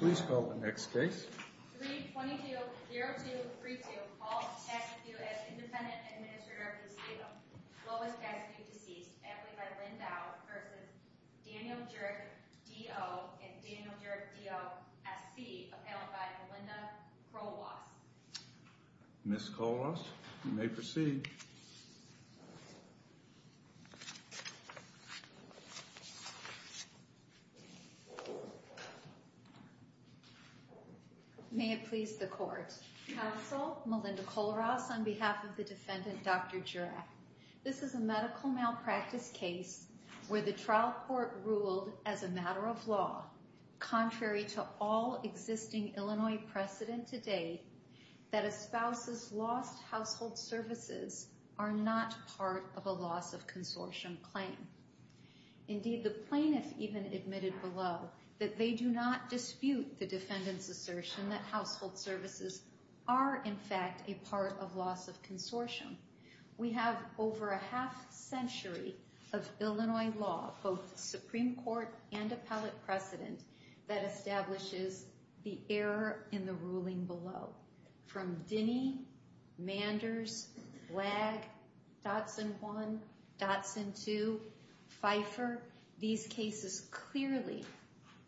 322-0232 calls Cassidue as Independent Administrator of the State of Lois Cassidue Deceased amply by Lynn Dow v. Daniel Jurak D.O. and Daniel Jurak D.O. S.C. appellant by Melinda Kroll-Ross May it please the court. Counsel, Melinda Kroll-Ross on behalf of the defendant, Dr. Jurak, this is a medical malpractice case where the trial court ruled as a matter of law, contrary to all existing Illinois precedent to date, that a spouse's lost household services are not part of a loss of consortium claim. Indeed, the plaintiff even admitted below that they do not dispute the defendant's assertion that household services are, in fact, a part of loss of consortium. We have over a half-century of Illinois law, both Supreme Court and appellate precedent, that establishes the error in the ruling below. From Dinnie, Manders, Wagg, Dotson 1, Dotson 2, Pfeiffer, these cases clearly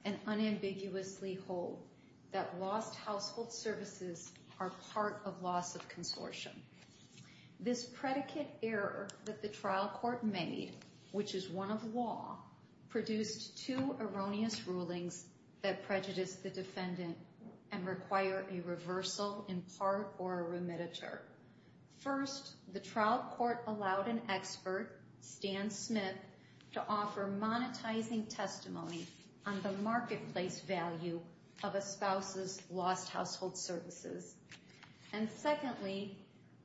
and unambiguously hold that lost household services are part of loss of consortium. This predicate error that the trial court made, which is one of law, produced two erroneous rulings that prejudiced the defendant and require a reversal in part or a remititure. First, the trial court allowed an expert, Stan Smith, to offer monetizing testimony on the marketplace value of a spouse's lost household services. And secondly,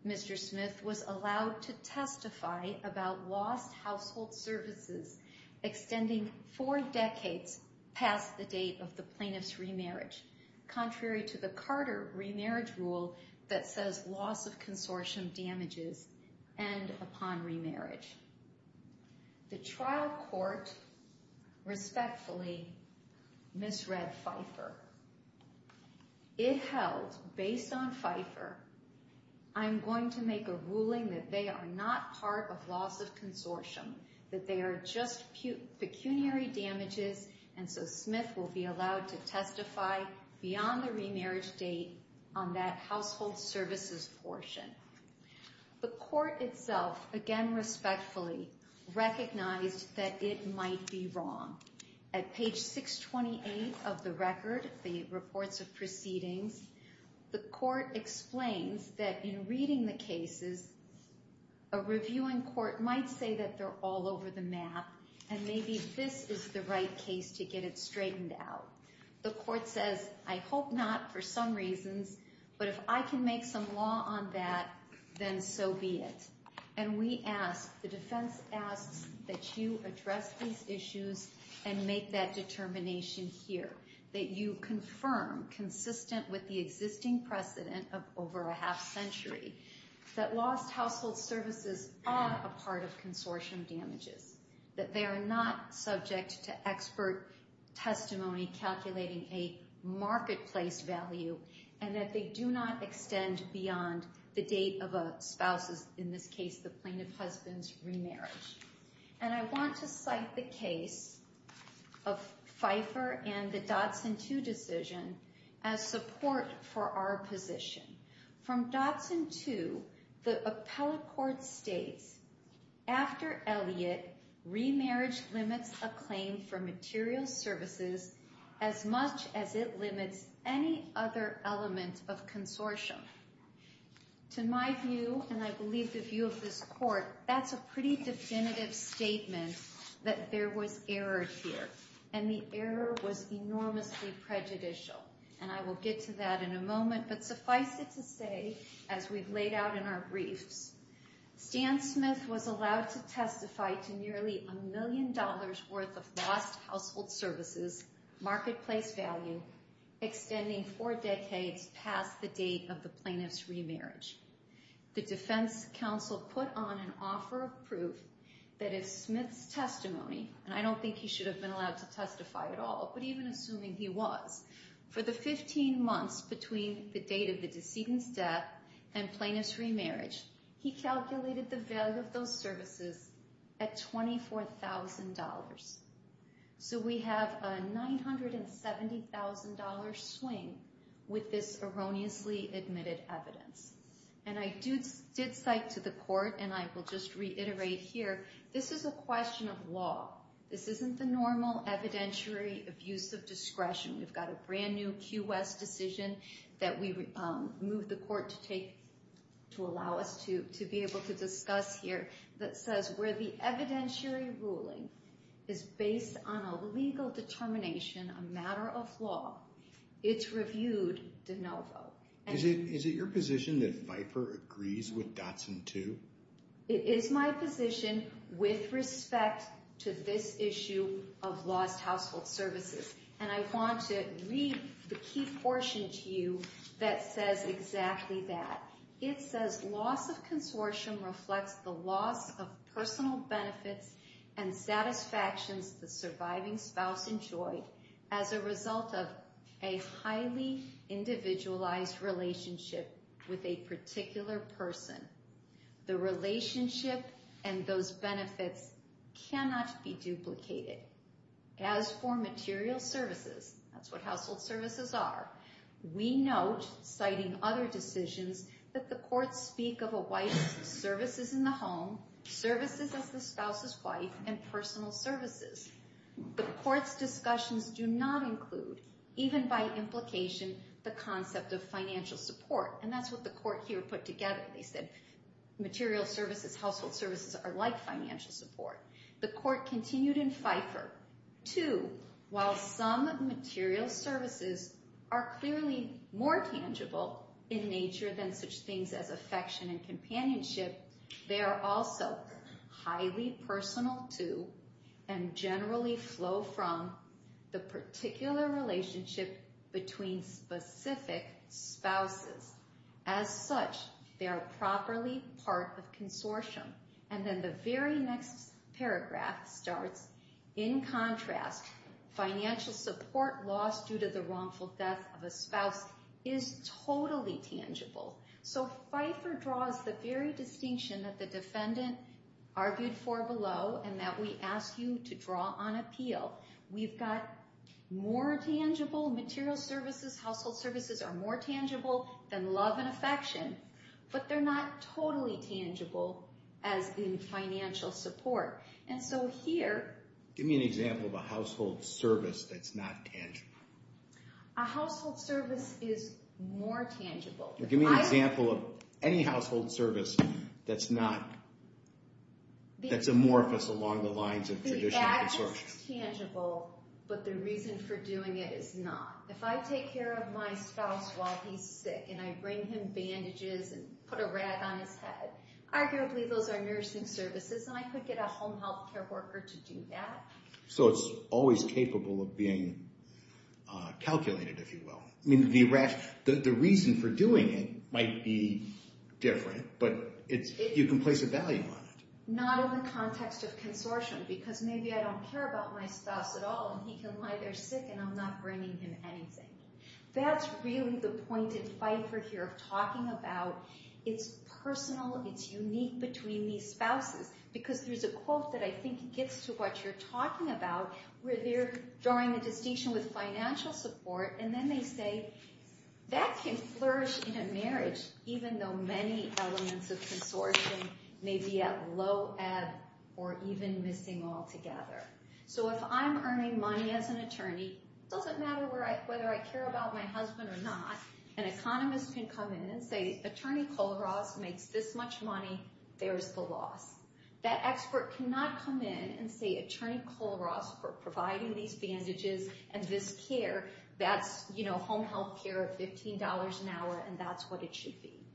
Mr. Smith was allowed to testify about lost household services extending four decades past the date of the plaintiff's remarriage, contrary to the Carter remarriage rule that says loss of consortium damages end upon remarriage. The trial court respectfully misread Pfeiffer. It held, based on Pfeiffer, I'm going to make a ruling that they are not part of loss of consortium, that they are just pecuniary damages, and so Smith will be allowed to testify beyond the remarriage date on that household services portion. The court itself, again respectfully, recognized that it might be wrong. At page 628 of the record, the reports of proceedings, the court explains that in reading the cases, a reviewing court might say that they're all over the map and maybe this is the right case to get it straightened out. The court says, I hope not for some reasons, but if I can make some law on that, then so be it. And we ask, the defense asks, that you address these issues and make that determination here, that you confirm, consistent with the existing precedent of over a half century, that lost household services are a part of consortium damages, that they are not subject to expert testimony calculating a marketplace value, and that they do not extend beyond the date of a spouse's, in this case, the plaintiff's husband's remarriage. And I want to cite the case of Pfeiffer and the Dodson 2 decision as support for our position. From Dodson 2, the appellate court states, after Elliott, remarriage limits a claim for material services as much as it limits any other element of consortium. To my view, and I believe the view of this court, that's a pretty definitive statement that there was error here, and the error was enormously prejudicial. And I will get to that in a moment, but suffice it to say, as we've laid out in our briefs, Stan Smith was allowed to testify to nearly a million dollars worth of lost household services, marketplace value, extending four decades past the date of the plaintiff's remarriage. The defense counsel put on an offer of proof that if Smith's testimony, and I don't think he should have been allowed to testify at all, but even assuming he was, for the 15 months between the date of the decedent's death and plaintiff's remarriage, he calculated the value of those services at $24,000. So we have a $970,000 swing with this erroneously admitted evidence. And I did cite to the court, and I will just reiterate here, this is a question of law. This isn't the normal evidentiary abuse of discretion. We've got a brand new Q. West decision that we moved the court to allow us to be able to discuss here that says where the evidentiary ruling is based on a legal determination, a matter of law, it's reviewed de novo. Is it your position that Pfeiffer agrees with Dotson too? It is my position with respect to this issue of lost household services. And I want to read the key portion to you that says exactly that. It says, loss of consortium reflects the loss of personal benefits and satisfactions the surviving spouse enjoyed as a result of a highly individualized relationship with a particular person. The relationship and those benefits cannot be duplicated. As for material services, that's what household services are, we note, citing other decisions, that the courts speak of a wife's services in the home, services as the spouse's wife, and personal services. The court's discussions do not include, even by implication, the concept of financial support. And that's what the court here put together. They said material services, household services, are like financial support. The court continued in Pfeiffer. Two, while some material services are clearly more tangible in nature than such things as affection and companionship, they are also highly personal to and generally flow from the particular relationship between specific spouses. As such, they are properly part of consortium. And then the very next paragraph starts, in contrast, financial support lost due to the wrongful death of a spouse is totally tangible. So Pfeiffer draws the very distinction that the defendant argued for below and that we ask you to draw on appeal. We've got more tangible material services, household services are more tangible than love and affection, but they're not totally tangible as in financial support. And so here... Give me an example of a household service that's not tangible. A household service is more tangible. Give me an example of any household service that's not, that's amorphous along the lines of traditional consortium. It's tangible, but the reason for doing it is not. If I take care of my spouse while he's sick and I bring him bandages and put a rag on his head, arguably those are nursing services and I could get a home health care worker to do that. So it's always capable of being calculated, if you will. I mean, the reason for doing it might be different, but you can place a value on it. Not in the context of consortium, because maybe I don't care about my spouse at all and he can lie there sick and I'm not bringing him anything. That's really the point in Pfeiffer here of talking about, it's personal, it's unique between these spouses. Because there's a quote that I think gets to what you're talking about, where they're drawing the distinction with financial support and then they say, that can flourish in a marriage, even though many elements of consortium may be at low ebb or even missing altogether. So if I'm earning money as an attorney, it doesn't matter whether I care about my husband or not, an economist can come in and say, Attorney Kohlroth makes this much money, there's the loss. That expert cannot come in and say, Attorney Kohlroth for providing these bandages and this care, that's home health care of $15 an hour and that's what it should be.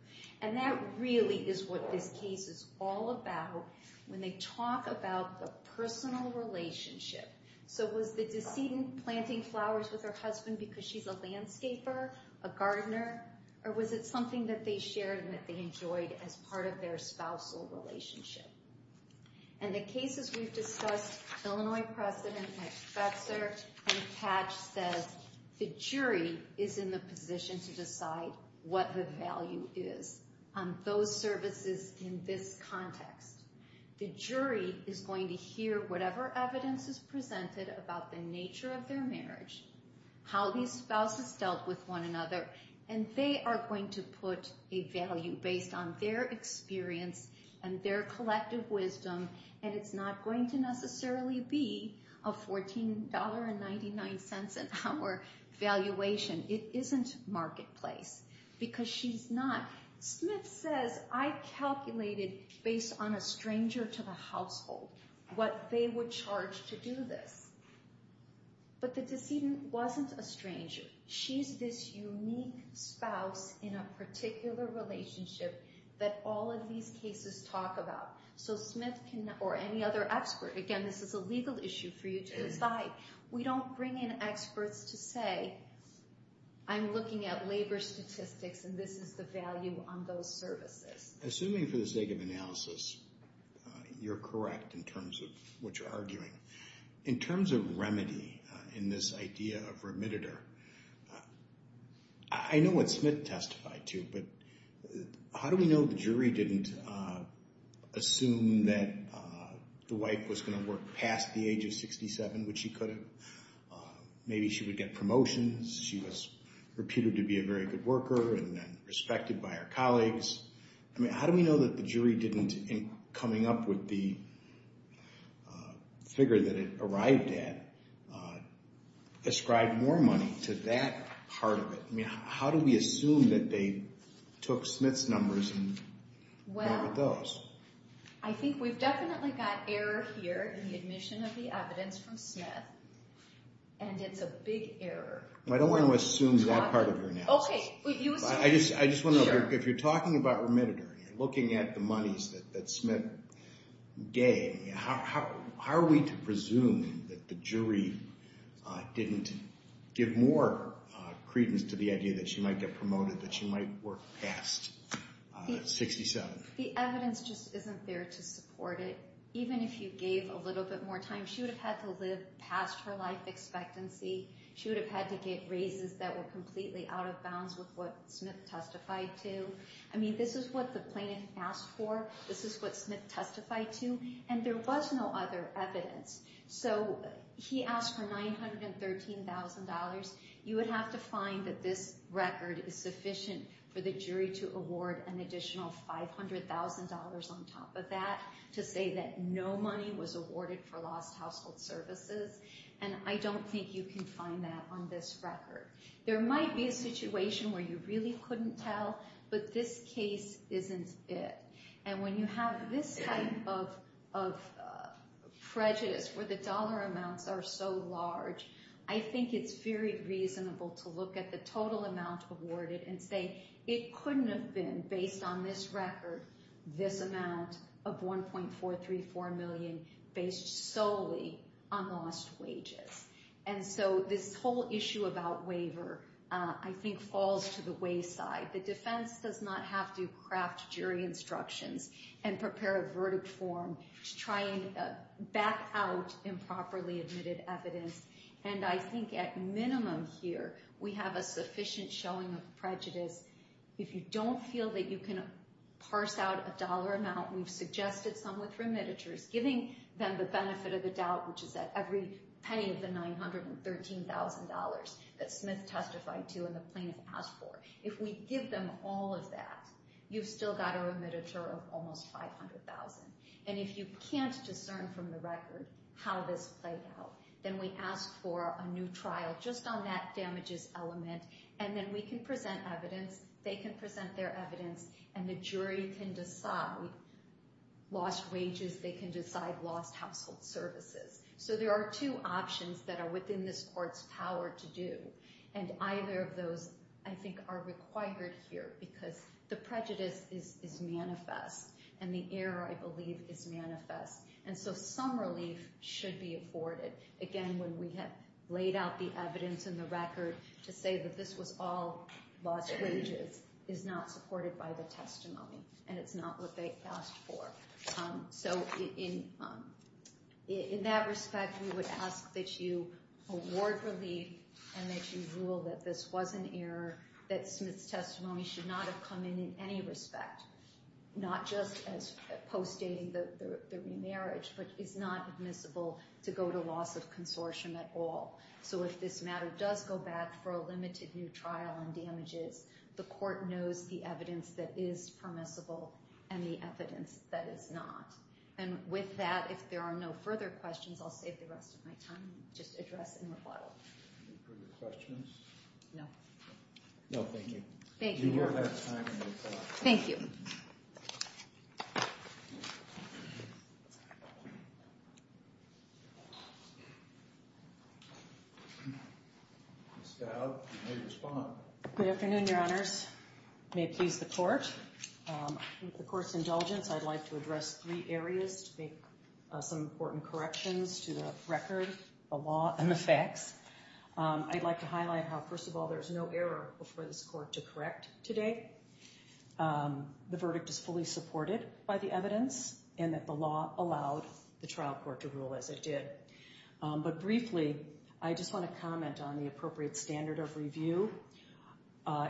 And that really is what this case is all about, when they talk about the personal relationship. So was the decedent planting flowers with her husband because she's a landscaper, a gardener? Or was it something that they shared and that they enjoyed as part of their spousal relationship? And the cases we've discussed, Illinois precedent at Pfeiffer and Patch says, the jury is in the position to decide what the value is on those services in this context. The jury is going to hear whatever evidence is presented about the nature of their marriage, how these spouses dealt with one another, and they are going to put a value based on their experience and their collective wisdom. And it's not going to necessarily be a $14.99 an hour valuation. It isn't marketplace because she's not. Smith says, I calculated based on a stranger to the household what they would charge to do this. But the decedent wasn't a stranger. She's this unique spouse in a particular relationship that all of these cases talk about. So Smith or any other expert, again, this is a legal issue for you to decide. We don't bring in experts to say, I'm looking at labor statistics and this is the value on those services. Assuming for the sake of analysis, you're correct in terms of what you're arguing. In terms of remedy in this idea of remitter, I know what Smith testified to, but how do we know the jury didn't assume that the wife was going to work past the age of 67, which she could have? Maybe she would get promotions. She was reputed to be a very good worker and then respected by her colleagues. How do we know that the jury didn't, in coming up with the figure that it arrived at, ascribe more money to that part of it? How do we assume that they took Smith's numbers and went with those? I think we've definitely got error here in the admission of the evidence from Smith, and it's a big error. I don't want to assume that part of your analysis. I just want to know, if you're talking about remitter and you're looking at the monies that Smith gave, how are we to presume that the jury didn't give more credence to the idea that she might get promoted, that she might work past 67? The evidence just isn't there to support it. Even if you gave a little bit more time, she would have had to live past her life expectancy. She would have had to get raises that were completely out of bounds with what Smith testified to. I mean, this is what the plaintiff asked for. This is what Smith testified to. And there was no other evidence. So he asked for $913,000. You would have to find that this record is sufficient for the jury to award an additional $500,000 on top of that to say that no money was awarded for lost household services. And I don't think you can find that on this record. There might be a situation where you really couldn't tell, but this case isn't it. And when you have this type of prejudice where the dollar amounts are so large, I think it's very reasonable to look at the total amount awarded and say, it couldn't have been, based on this record, this amount of $1.434 million based solely on lost wages. And so this whole issue about waiver, I think, falls to the wayside. The defense does not have to craft jury instructions and prepare a verdict form to try and back out improperly admitted evidence. And I think at minimum here, we have a sufficient showing of prejudice. If you don't feel that you can parse out a dollar amount, we've suggested some with remittances, giving them the benefit of the doubt, which is that every penny of the $913,000 that Smith testified to and the plaintiff asked for, if we give them all of that, you've still got a remittance of almost $500,000. And if you can't discern from the record how this played out, then we ask for a new trial just on that damages element. And then we can present evidence. They can present their evidence. And the jury can decide lost wages. They can decide lost household services. So there are two options that are within this court's power to do. And either of those, I think, are required here because the prejudice is manifest. And the error, I believe, is manifest. And so some relief should be afforded. Again, when we have laid out the evidence in the record to say that this was all lost wages is not supported by the testimony, and it's not what they asked for. So in that respect, we would ask that you award relief and that you rule that this was an error, that Smith's testimony should not have come in in any respect, not just as post-dating the remarriage, but is not admissible to go to loss of consortium at all. So if this matter does go back for a limited new trial on damages, the court knows the evidence that is permissible and the evidence that is not. And with that, if there are no further questions, I'll save the rest of my time and just address in rebuttal. Any further questions? No. No. Thank you. Thank you. Thank you. Ms. Dowd, you may respond. Good afternoon, Your Honors. May it please the Court. With the Court's indulgence, I'd like to address three areas to make some important corrections to the record, the law, and the facts. I'd like to highlight how, first of all, there's no error for this Court to correct today. The verdict is fully supported by the evidence and that the law allowed the trial court to rule as it did. But briefly, I just want to comment on the appropriate standard of review.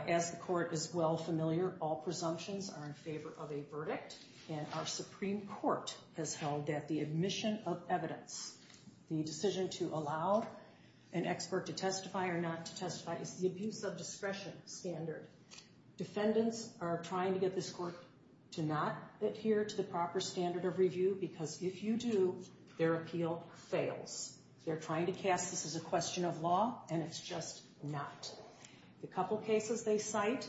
As the Court is well familiar, all presumptions are in favor of a verdict, and our Supreme Court has held that the admission of evidence, the decision to allow an expert to testify or not to testify, is the abuse of discretion standard. Defendants are trying to get this Court to not adhere to the proper standard of review because if you do, their appeal fails. They're trying to cast this as a question of law, and it's just not. The couple cases they cite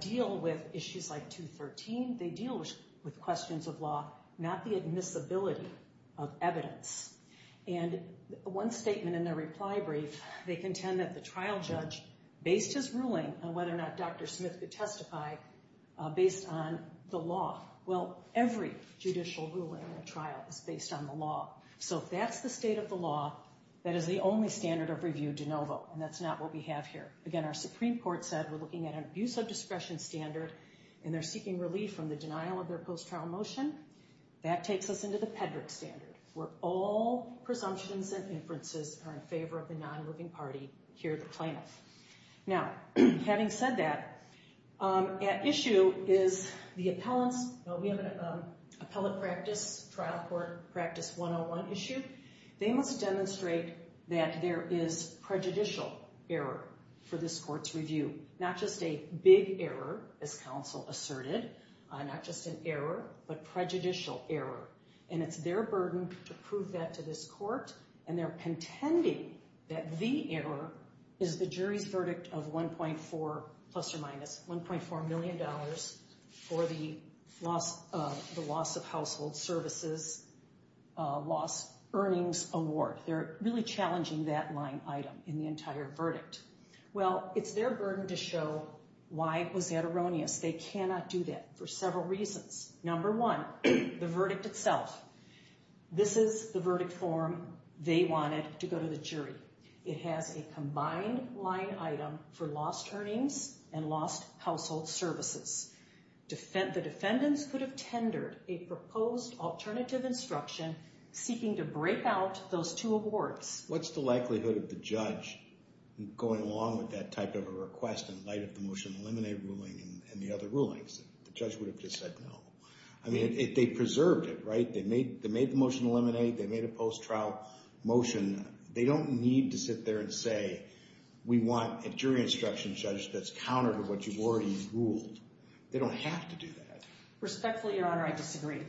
deal with issues like 213. They deal with questions of law, not the admissibility of evidence. And one statement in their reply brief, they contend that the trial judge based his ruling on whether or not Dr. Smith could testify based on the law. Well, every judicial ruling in a trial is based on the law. So if that's the state of the law, that is the only standard of review de novo, and that's not what we have here. Again, our Supreme Court said we're looking at an abuse of discretion standard, and they're seeking relief from the denial of their post-trial motion. That takes us into the Pedrick standard, where all presumptions and inferences are in favor of a non-moving party here at the plaintiff. Now, having said that, at issue is the appellants. We have an appellate practice, trial court practice 101 issue. They must demonstrate that there is prejudicial error for this court's review, not just a big error, as counsel asserted, not just an error, but prejudicial error. And it's their burden to prove that to this court, and they're contending that the error is the jury's verdict of 1.4 plus or minus, $1.4 million for the loss of household services, loss earnings award. They're really challenging that line item in the entire verdict. Well, it's their burden to show why it was that erroneous. They cannot do that for several reasons. Number one, the verdict itself. This is the verdict form they wanted to go to the jury. It has a combined line item for lost earnings and lost household services. The defendants could have tendered a proposed alternative instruction seeking to break out those two awards. What's the likelihood of the judge going along with that type of a request in light of the motion to eliminate ruling and the other rulings? The judge would have just said no. I mean, they preserved it, right? They made the motion to eliminate. They made a post-trial motion. They don't need to sit there and say, we want a jury instruction judge that's counter to what you've already ruled. They don't have to do that. Respectfully, Your Honor, I disagree.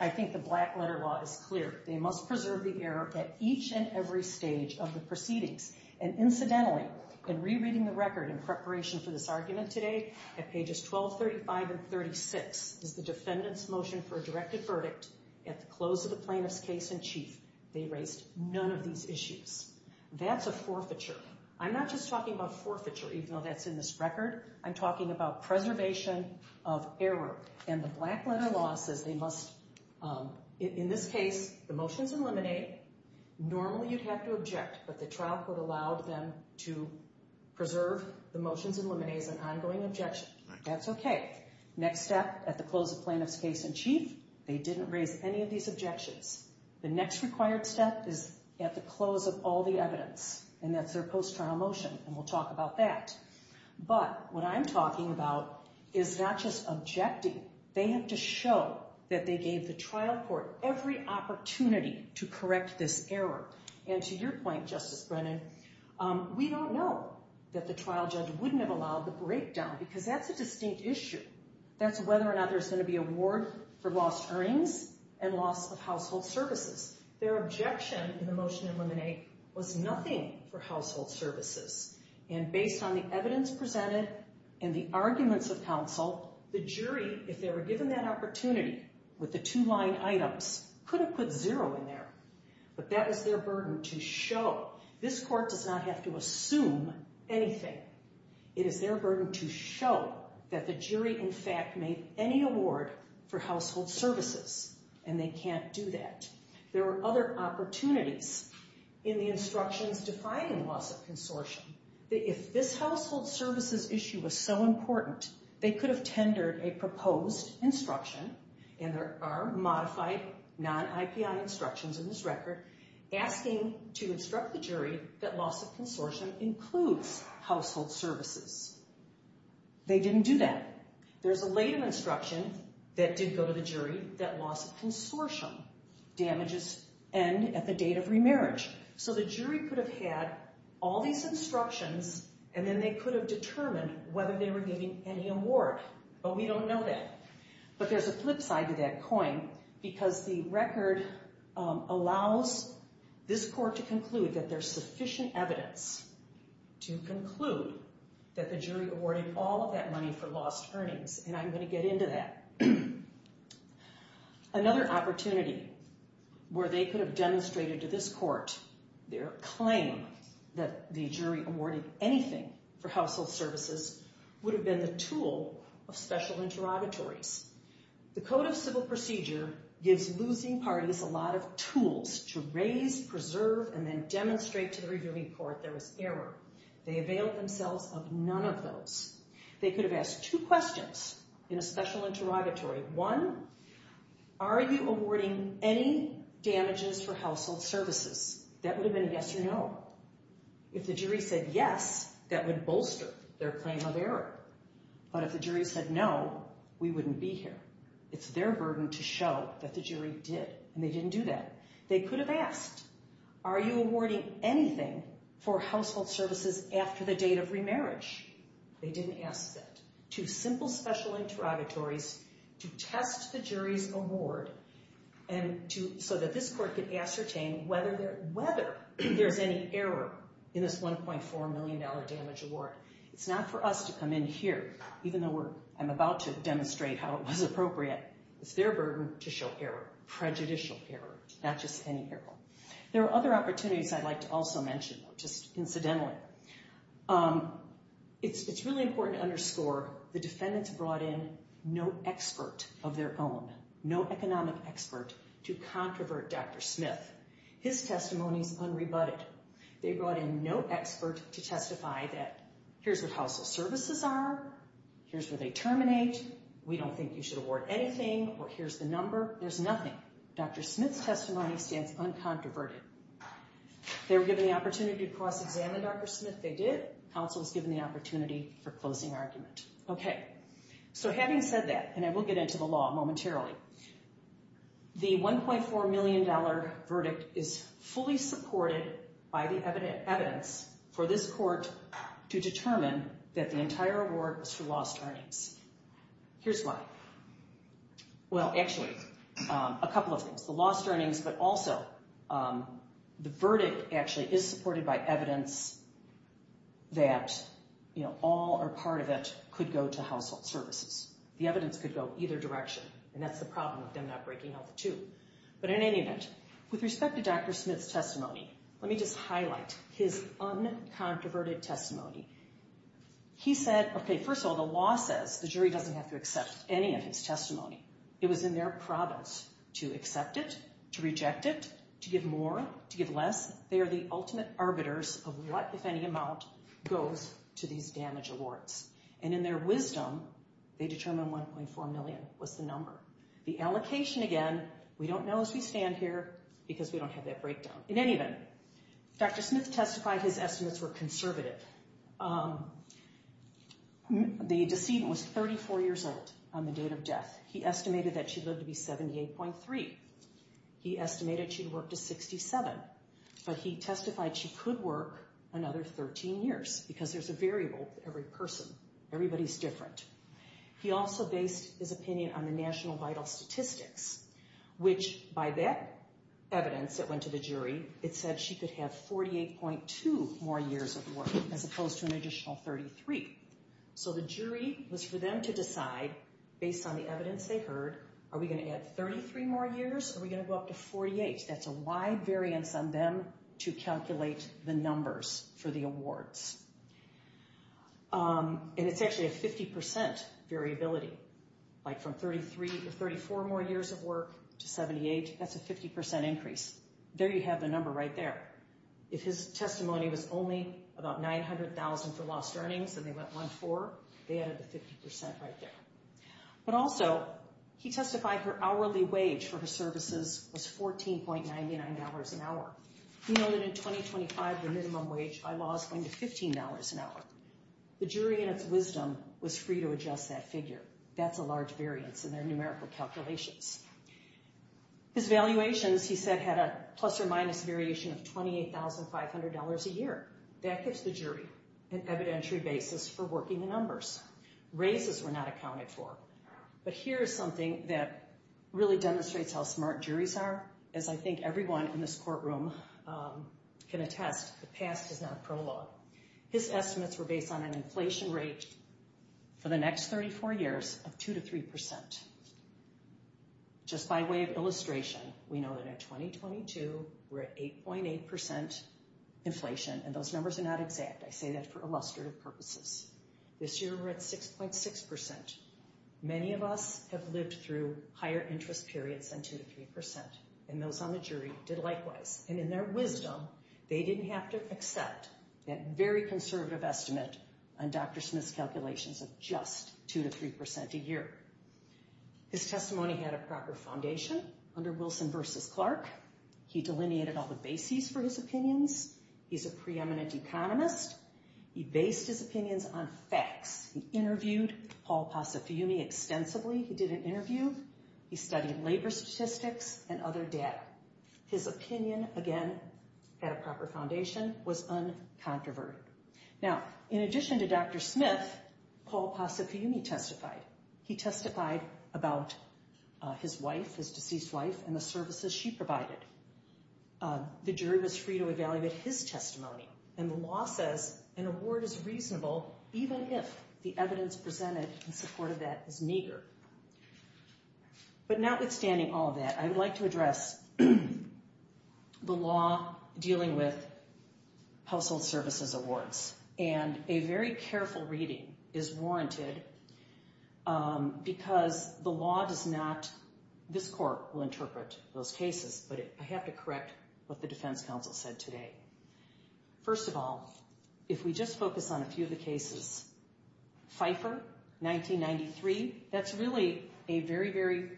I think the black letter law is clear. They must preserve the error at each and every stage of the proceedings. And incidentally, in rereading the record in preparation for this argument today, at pages 1235 and 36 is the defendant's motion for a directed verdict. At the close of the plaintiff's case in chief, they raised none of these issues. That's a forfeiture. I'm not just talking about forfeiture, even though that's in this record. I'm talking about preservation of error. And the black letter law says they must, in this case, the motion's eliminated. Normally, you'd have to object, but the trial court allowed them to preserve the motions and eliminates an ongoing objection. That's okay. Next step, at the close of plaintiff's case in chief, they didn't raise any of these objections. The next required step is at the close of all the evidence, and that's their post-trial motion, and we'll talk about that. But what I'm talking about is not just objecting. They have to show that they gave the trial court every opportunity to correct this error. And to your point, Justice Brennan, we don't know that the trial judge wouldn't have allowed the breakdown because that's a distinct issue. That's whether or not there's going to be a ward for lost earnings and loss of household services. Their objection in the motion to eliminate was nothing for household services. And based on the evidence presented and the arguments of counsel, the jury, if they were given that opportunity with the two line items, could have put zero in there. But that was their burden to show. This court does not have to assume anything. It is their burden to show that the jury, in fact, made any award for household services, and they can't do that. There were other opportunities in the instructions defining loss of consortium. If this household services issue was so important, they could have tendered a proposed instruction, and there are modified non-IPI instructions in this record, asking to instruct the jury that loss of consortium includes household services. They didn't do that. There's a later instruction that did go to the jury that loss of consortium damages end at the date of remarriage. So the jury could have had all these instructions, and then they could have determined whether they were giving any award. But we don't know that. But there's a flip side to that coin, because the record allows this court to conclude that there's sufficient evidence to conclude that the jury awarded all of that money for lost earnings. And I'm going to get into that. Another opportunity where they could have demonstrated to this court their claim that the jury awarded anything for household services would have been the tool of special interrogatories. The Code of Civil Procedure gives losing parties a lot of tools to raise, preserve, and then demonstrate to the reviewing court there was error. They availed themselves of none of those. They could have asked two questions in a special interrogatory. One, are you awarding any damages for household services? That would have been yes or no. If the jury said yes, that would bolster their claim of error. But if the jury said no, we wouldn't be here. It's their burden to show that the jury did, and they didn't do that. They could have asked, are you awarding anything for household services after the date of remarriage? They didn't ask that. Two simple special interrogatories to test the jury's award so that this court could ascertain whether there's any error in this $1.4 million damage award. It's not for us to come in here, even though I'm about to demonstrate how it was appropriate. It's their burden to show error, prejudicial error, not just any error. There are other opportunities I'd like to also mention, just incidentally. It's really important to underscore the defendants brought in no expert of their own, no economic expert to controvert Dr. Smith. His testimony is unrebutted. They brought in no expert to testify that here's what household services are, here's where they terminate, we don't think you should award anything, or here's the number. There's nothing. Dr. Smith's testimony stands uncontroverted. They were given the opportunity to cross-examine Dr. Smith. They did. Counsel was given the opportunity for closing argument. Okay, so having said that, and I will get into the law momentarily, the $1.4 million verdict is fully supported by the evidence for this court to determine that the entire award was for lost earnings. Here's why. Well, actually, a couple of things. The lost earnings, but also the verdict actually is supported by evidence that all or part of it could go to household services. The evidence could go either direction, and that's the problem with them not breaking out the two. But in any event, with respect to Dr. Smith's testimony, let me just highlight his uncontroverted testimony. He said, okay, first of all, the law says the jury doesn't have to accept any of his testimony. It was in their province to accept it, to reject it, to give more, to give less. They are the ultimate arbiters of what, if any, amount goes to these damaged awards. And in their wisdom, they determined $1.4 million was the number. The allocation, again, we don't know as we stand here because we don't have that breakdown. In any event, Dr. Smith testified his estimates were conservative. The decedent was 34 years old on the date of death. He estimated that she lived to be 78.3. He estimated she'd work to 67. But he testified she could work another 13 years because there's a variable with every person. Everybody's different. He also based his opinion on the National Vital Statistics, which, by that evidence that went to the jury, it said she could have 48.2 more years of work, as opposed to an additional 33. So the jury was for them to decide, based on the evidence they heard, are we going to add 33 more years or are we going to go up to 48? That's a wide variance on them to calculate the numbers for the awards. And it's actually a 50% variability, like from 33 or 34 more years of work to 78. That's a 50% increase. There you have the number right there. If his testimony was only about $900,000 for lost earnings and they went 1-4, they added the 50% right there. But also, he testified her hourly wage for her services was $14.99 an hour. We know that in 2025, the minimum wage by law is going to $15 an hour. The jury, in its wisdom, was free to adjust that figure. That's a large variance in their numerical calculations. His valuations, he said, had a plus or minus variation of $28,500 a year. That gives the jury an evidentiary basis for working the numbers. Raises were not accounted for. But here is something that really demonstrates how smart juries are. As I think everyone in this courtroom can attest, the past is not prologue. His estimates were based on an inflation rate for the next 34 years of 2-3%. Just by way of illustration, we know that in 2022, we're at 8.8% inflation. And those numbers are not exact. I say that for illustrative purposes. This year, we're at 6.6%. Many of us have lived through higher interest periods than 2-3%. And those on the jury did likewise. And in their wisdom, they didn't have to accept that very conservative estimate on Dr. Smith's calculations of just 2-3% a year. His testimony had a proper foundation under Wilson v. Clark. He delineated all the bases for his opinions. He's a preeminent economist. He based his opinions on facts. He interviewed Paul Possefumi extensively. He did an interview. He studied labor statistics and other data. His opinion, again, had a proper foundation, was uncontroverted. Now, in addition to Dr. Smith, Paul Possefumi testified. He testified about his wife, his deceased wife, and the services she provided. The jury was free to evaluate his testimony. And the law says an award is reasonable even if the evidence presented in support of that is meager. But notwithstanding all that, I'd like to address the law dealing with household services awards. And a very careful reading is warranted because the law does not, this court will interpret those cases, but I have to correct what the defense counsel said today. First of all, if we just focus on a few of the cases, Pfeiffer, 1993, that's really a very, very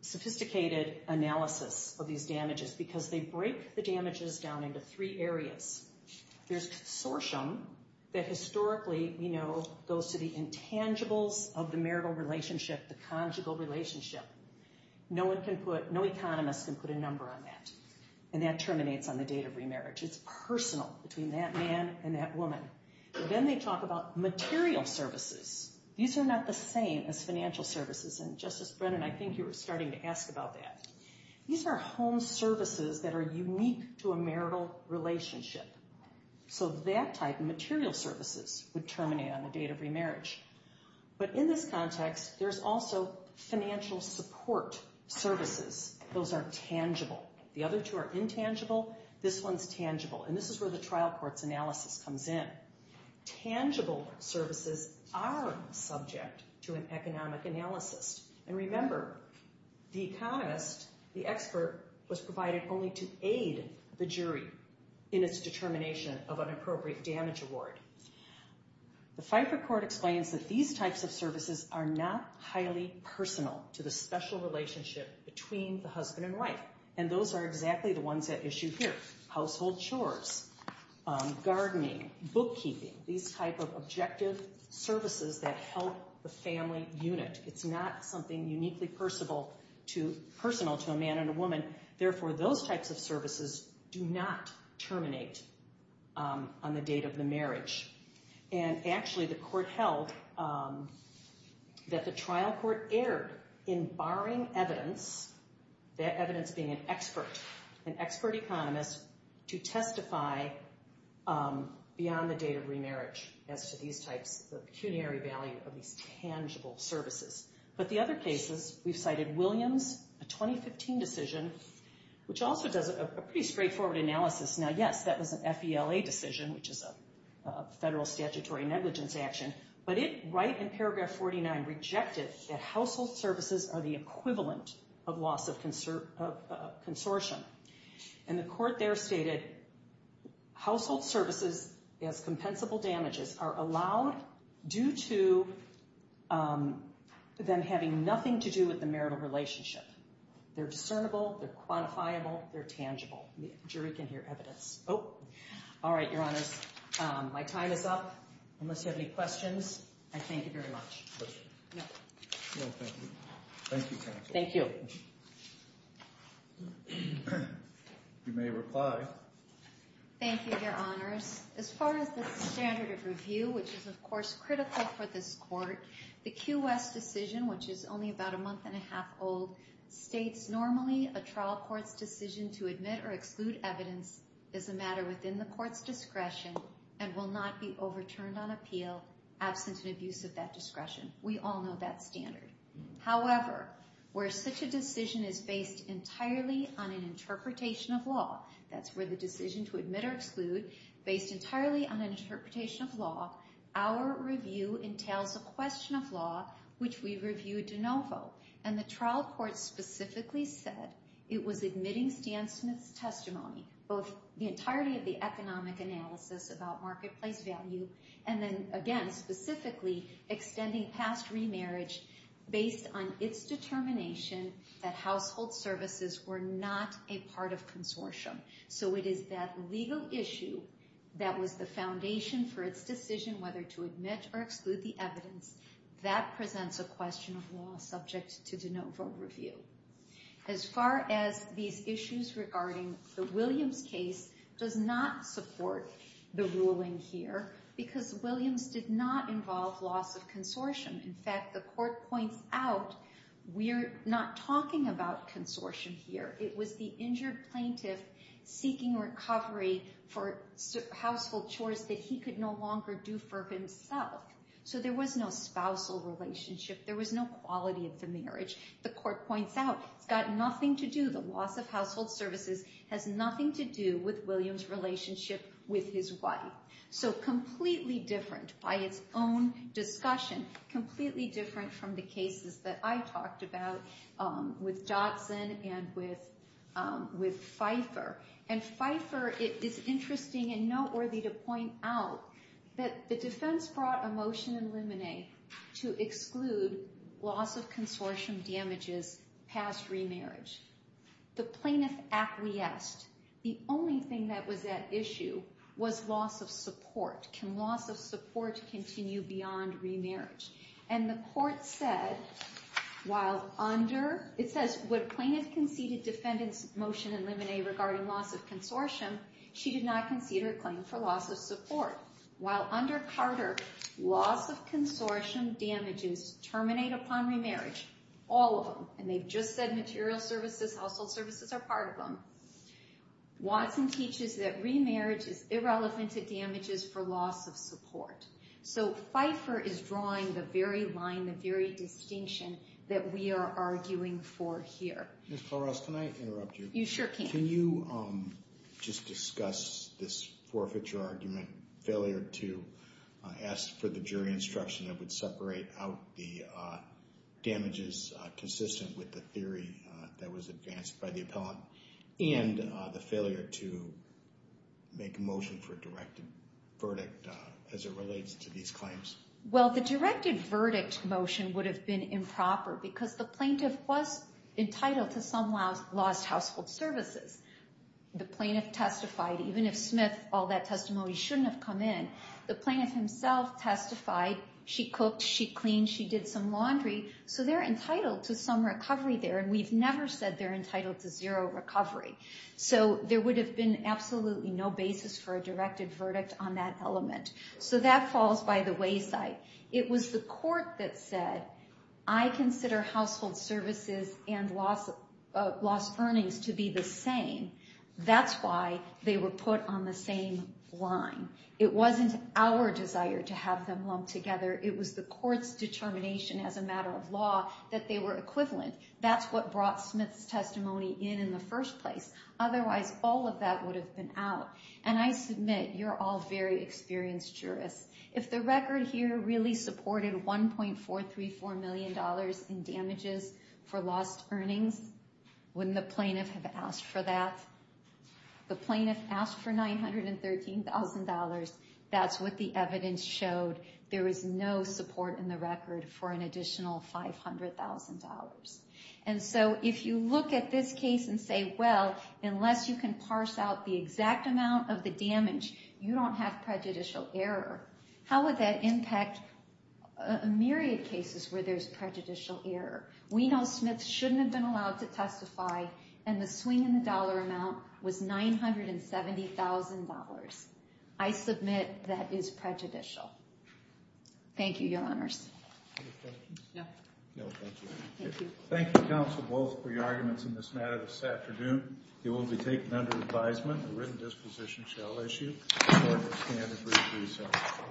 sophisticated analysis of these damages because they break the damages down into three areas. There's consortium that historically, you know, goes to the intangibles of the marital relationship, the conjugal relationship. No economist can put a number on that, and that terminates on the date of remarriage. It's personal between that man and that woman. Then they talk about material services. These are not the same as financial services, and Justice Brennan, I think you were starting to ask about that. These are home services that are unique to a marital relationship. So that type of material services would terminate on the date of remarriage. But in this context, there's also financial support services. Those are tangible. The other two are intangible. This one's tangible, and this is where the trial court's analysis comes in. Tangible services are subject to an economic analysis. And remember, the economist, the expert, was provided only to aid the jury in its determination of an appropriate damage award. The Fifer Court explains that these types of services are not highly personal to the special relationship between the husband and wife, and those are exactly the ones at issue here. Household chores, gardening, bookkeeping, these type of objective services that help the family unit. It's not something uniquely personal to a man and a woman. Therefore, those types of services do not terminate on the date of the marriage. And actually, the court held that the trial court erred in barring evidence, that evidence being an expert, an expert economist, to testify beyond the date of remarriage as to these types, the pecuniary value of these tangible services. But the other cases, we've cited Williams, a 2015 decision, which also does a pretty straightforward analysis. Now, yes, that was an FELA decision, which is a Federal Statutory Negligence Action, but it, right in paragraph 49, rejected that household services are the equivalent of loss of consortium. And the court there stated, household services as compensable damages are allowed due to them having nothing to do with the marital relationship. They're discernible, they're quantifiable, they're tangible. The jury can hear evidence. All right, Your Honors, my time is up. Unless you have any questions, I thank you very much. No, thank you. Thank you, counsel. Thank you. You may reply. Thank you, Your Honors. As far as the standard of review, which is, of course, critical for this court, the Q.S. decision, which is only about a month and a half old, states normally a trial court's decision to admit or exclude evidence is a matter within the court's discretion and will not be overturned on appeal absent an abuse of that discretion. We all know that standard. However, where such a decision is based entirely on an interpretation of law, that's where the decision to admit or exclude, based entirely on an interpretation of law, our review entails a question of law which we review de novo. And the trial court specifically said it was admitting Stan Smith's testimony, both the entirety of the economic analysis about marketplace value and then, again, specifically extending past remarriage based on its determination that household services were not a part of consortium. So it is that legal issue that was the foundation for its decision whether to admit or exclude the evidence. That presents a question of law subject to de novo review. As far as these issues regarding the Williams case, does not support the ruling here because Williams did not involve loss of consortium. In fact, the court points out we're not talking about consortium here. It was the injured plaintiff seeking recovery for household chores that he could no longer do for himself. So there was no spousal relationship. There was no quality of the marriage. The court points out it's got nothing to do, the loss of household services has nothing to do with Williams' relationship with his wife. So completely different by its own discussion, completely different from the cases that I talked about with Dodson and with Pfeiffer. And Pfeiffer, it's interesting and noteworthy to point out that the defense brought a motion in limine to exclude loss of consortium damages past remarriage. The plaintiff acquiesced. The only thing that was at issue was loss of support. Can loss of support continue beyond remarriage? And the court said while under, it says when plaintiff conceded defendant's motion in limine regarding loss of consortium, she did not concede her claim for loss of support. While under Carter, loss of consortium damages terminate upon remarriage, all of them, and they've just said material services, household services are part of them. Watson teaches that remarriage is irrelevant to damages for loss of support. So Pfeiffer is drawing the very line, the very distinction that we are arguing for here. Ms. Koros, can I interrupt you? You sure can. Can you just discuss this forfeiture argument, failure to ask for the jury instruction that would separate out the damages consistent with the theory that was advanced by the appellant and the failure to make a motion for a directed verdict as it relates to these claims? Well, the directed verdict motion would have been improper because the plaintiff was entitled to some lost household services. The plaintiff testified, even if Smith, all that testimony shouldn't have come in, the plaintiff himself testified, she cooked, she cleaned, she did some laundry, so they're entitled to some recovery there, and we've never said they're entitled to zero recovery. So there would have been absolutely no basis for a directed verdict on that element. So that falls by the wayside. It was the court that said, I consider household services and lost earnings to be the same. That's why they were put on the same line. It wasn't our desire to have them lumped together. It was the court's determination as a matter of law that they were equivalent. That's what brought Smith's testimony in in the first place. Otherwise, all of that would have been out. And I submit you're all very experienced jurists. If the record here really supported $1.434 million in damages for lost earnings, wouldn't the plaintiff have asked for that? The plaintiff asked for $913,000. That's what the evidence showed. There was no support in the record for an additional $500,000. And so if you look at this case and say, well, unless you can parse out the exact amount of the damage, you don't have prejudicial error, how would that impact a myriad of cases where there's prejudicial error? We know Smith shouldn't have been allowed to testify, and the swing in the dollar amount was $970,000. I submit that is prejudicial. Thank you, Your Honors. Any questions? No. No, thank you. Thank you. Thank you, counsel, both, for your arguments in this matter this afternoon. It will be taken under advisement. The written disposition shall issue. The court will stand and brief recess.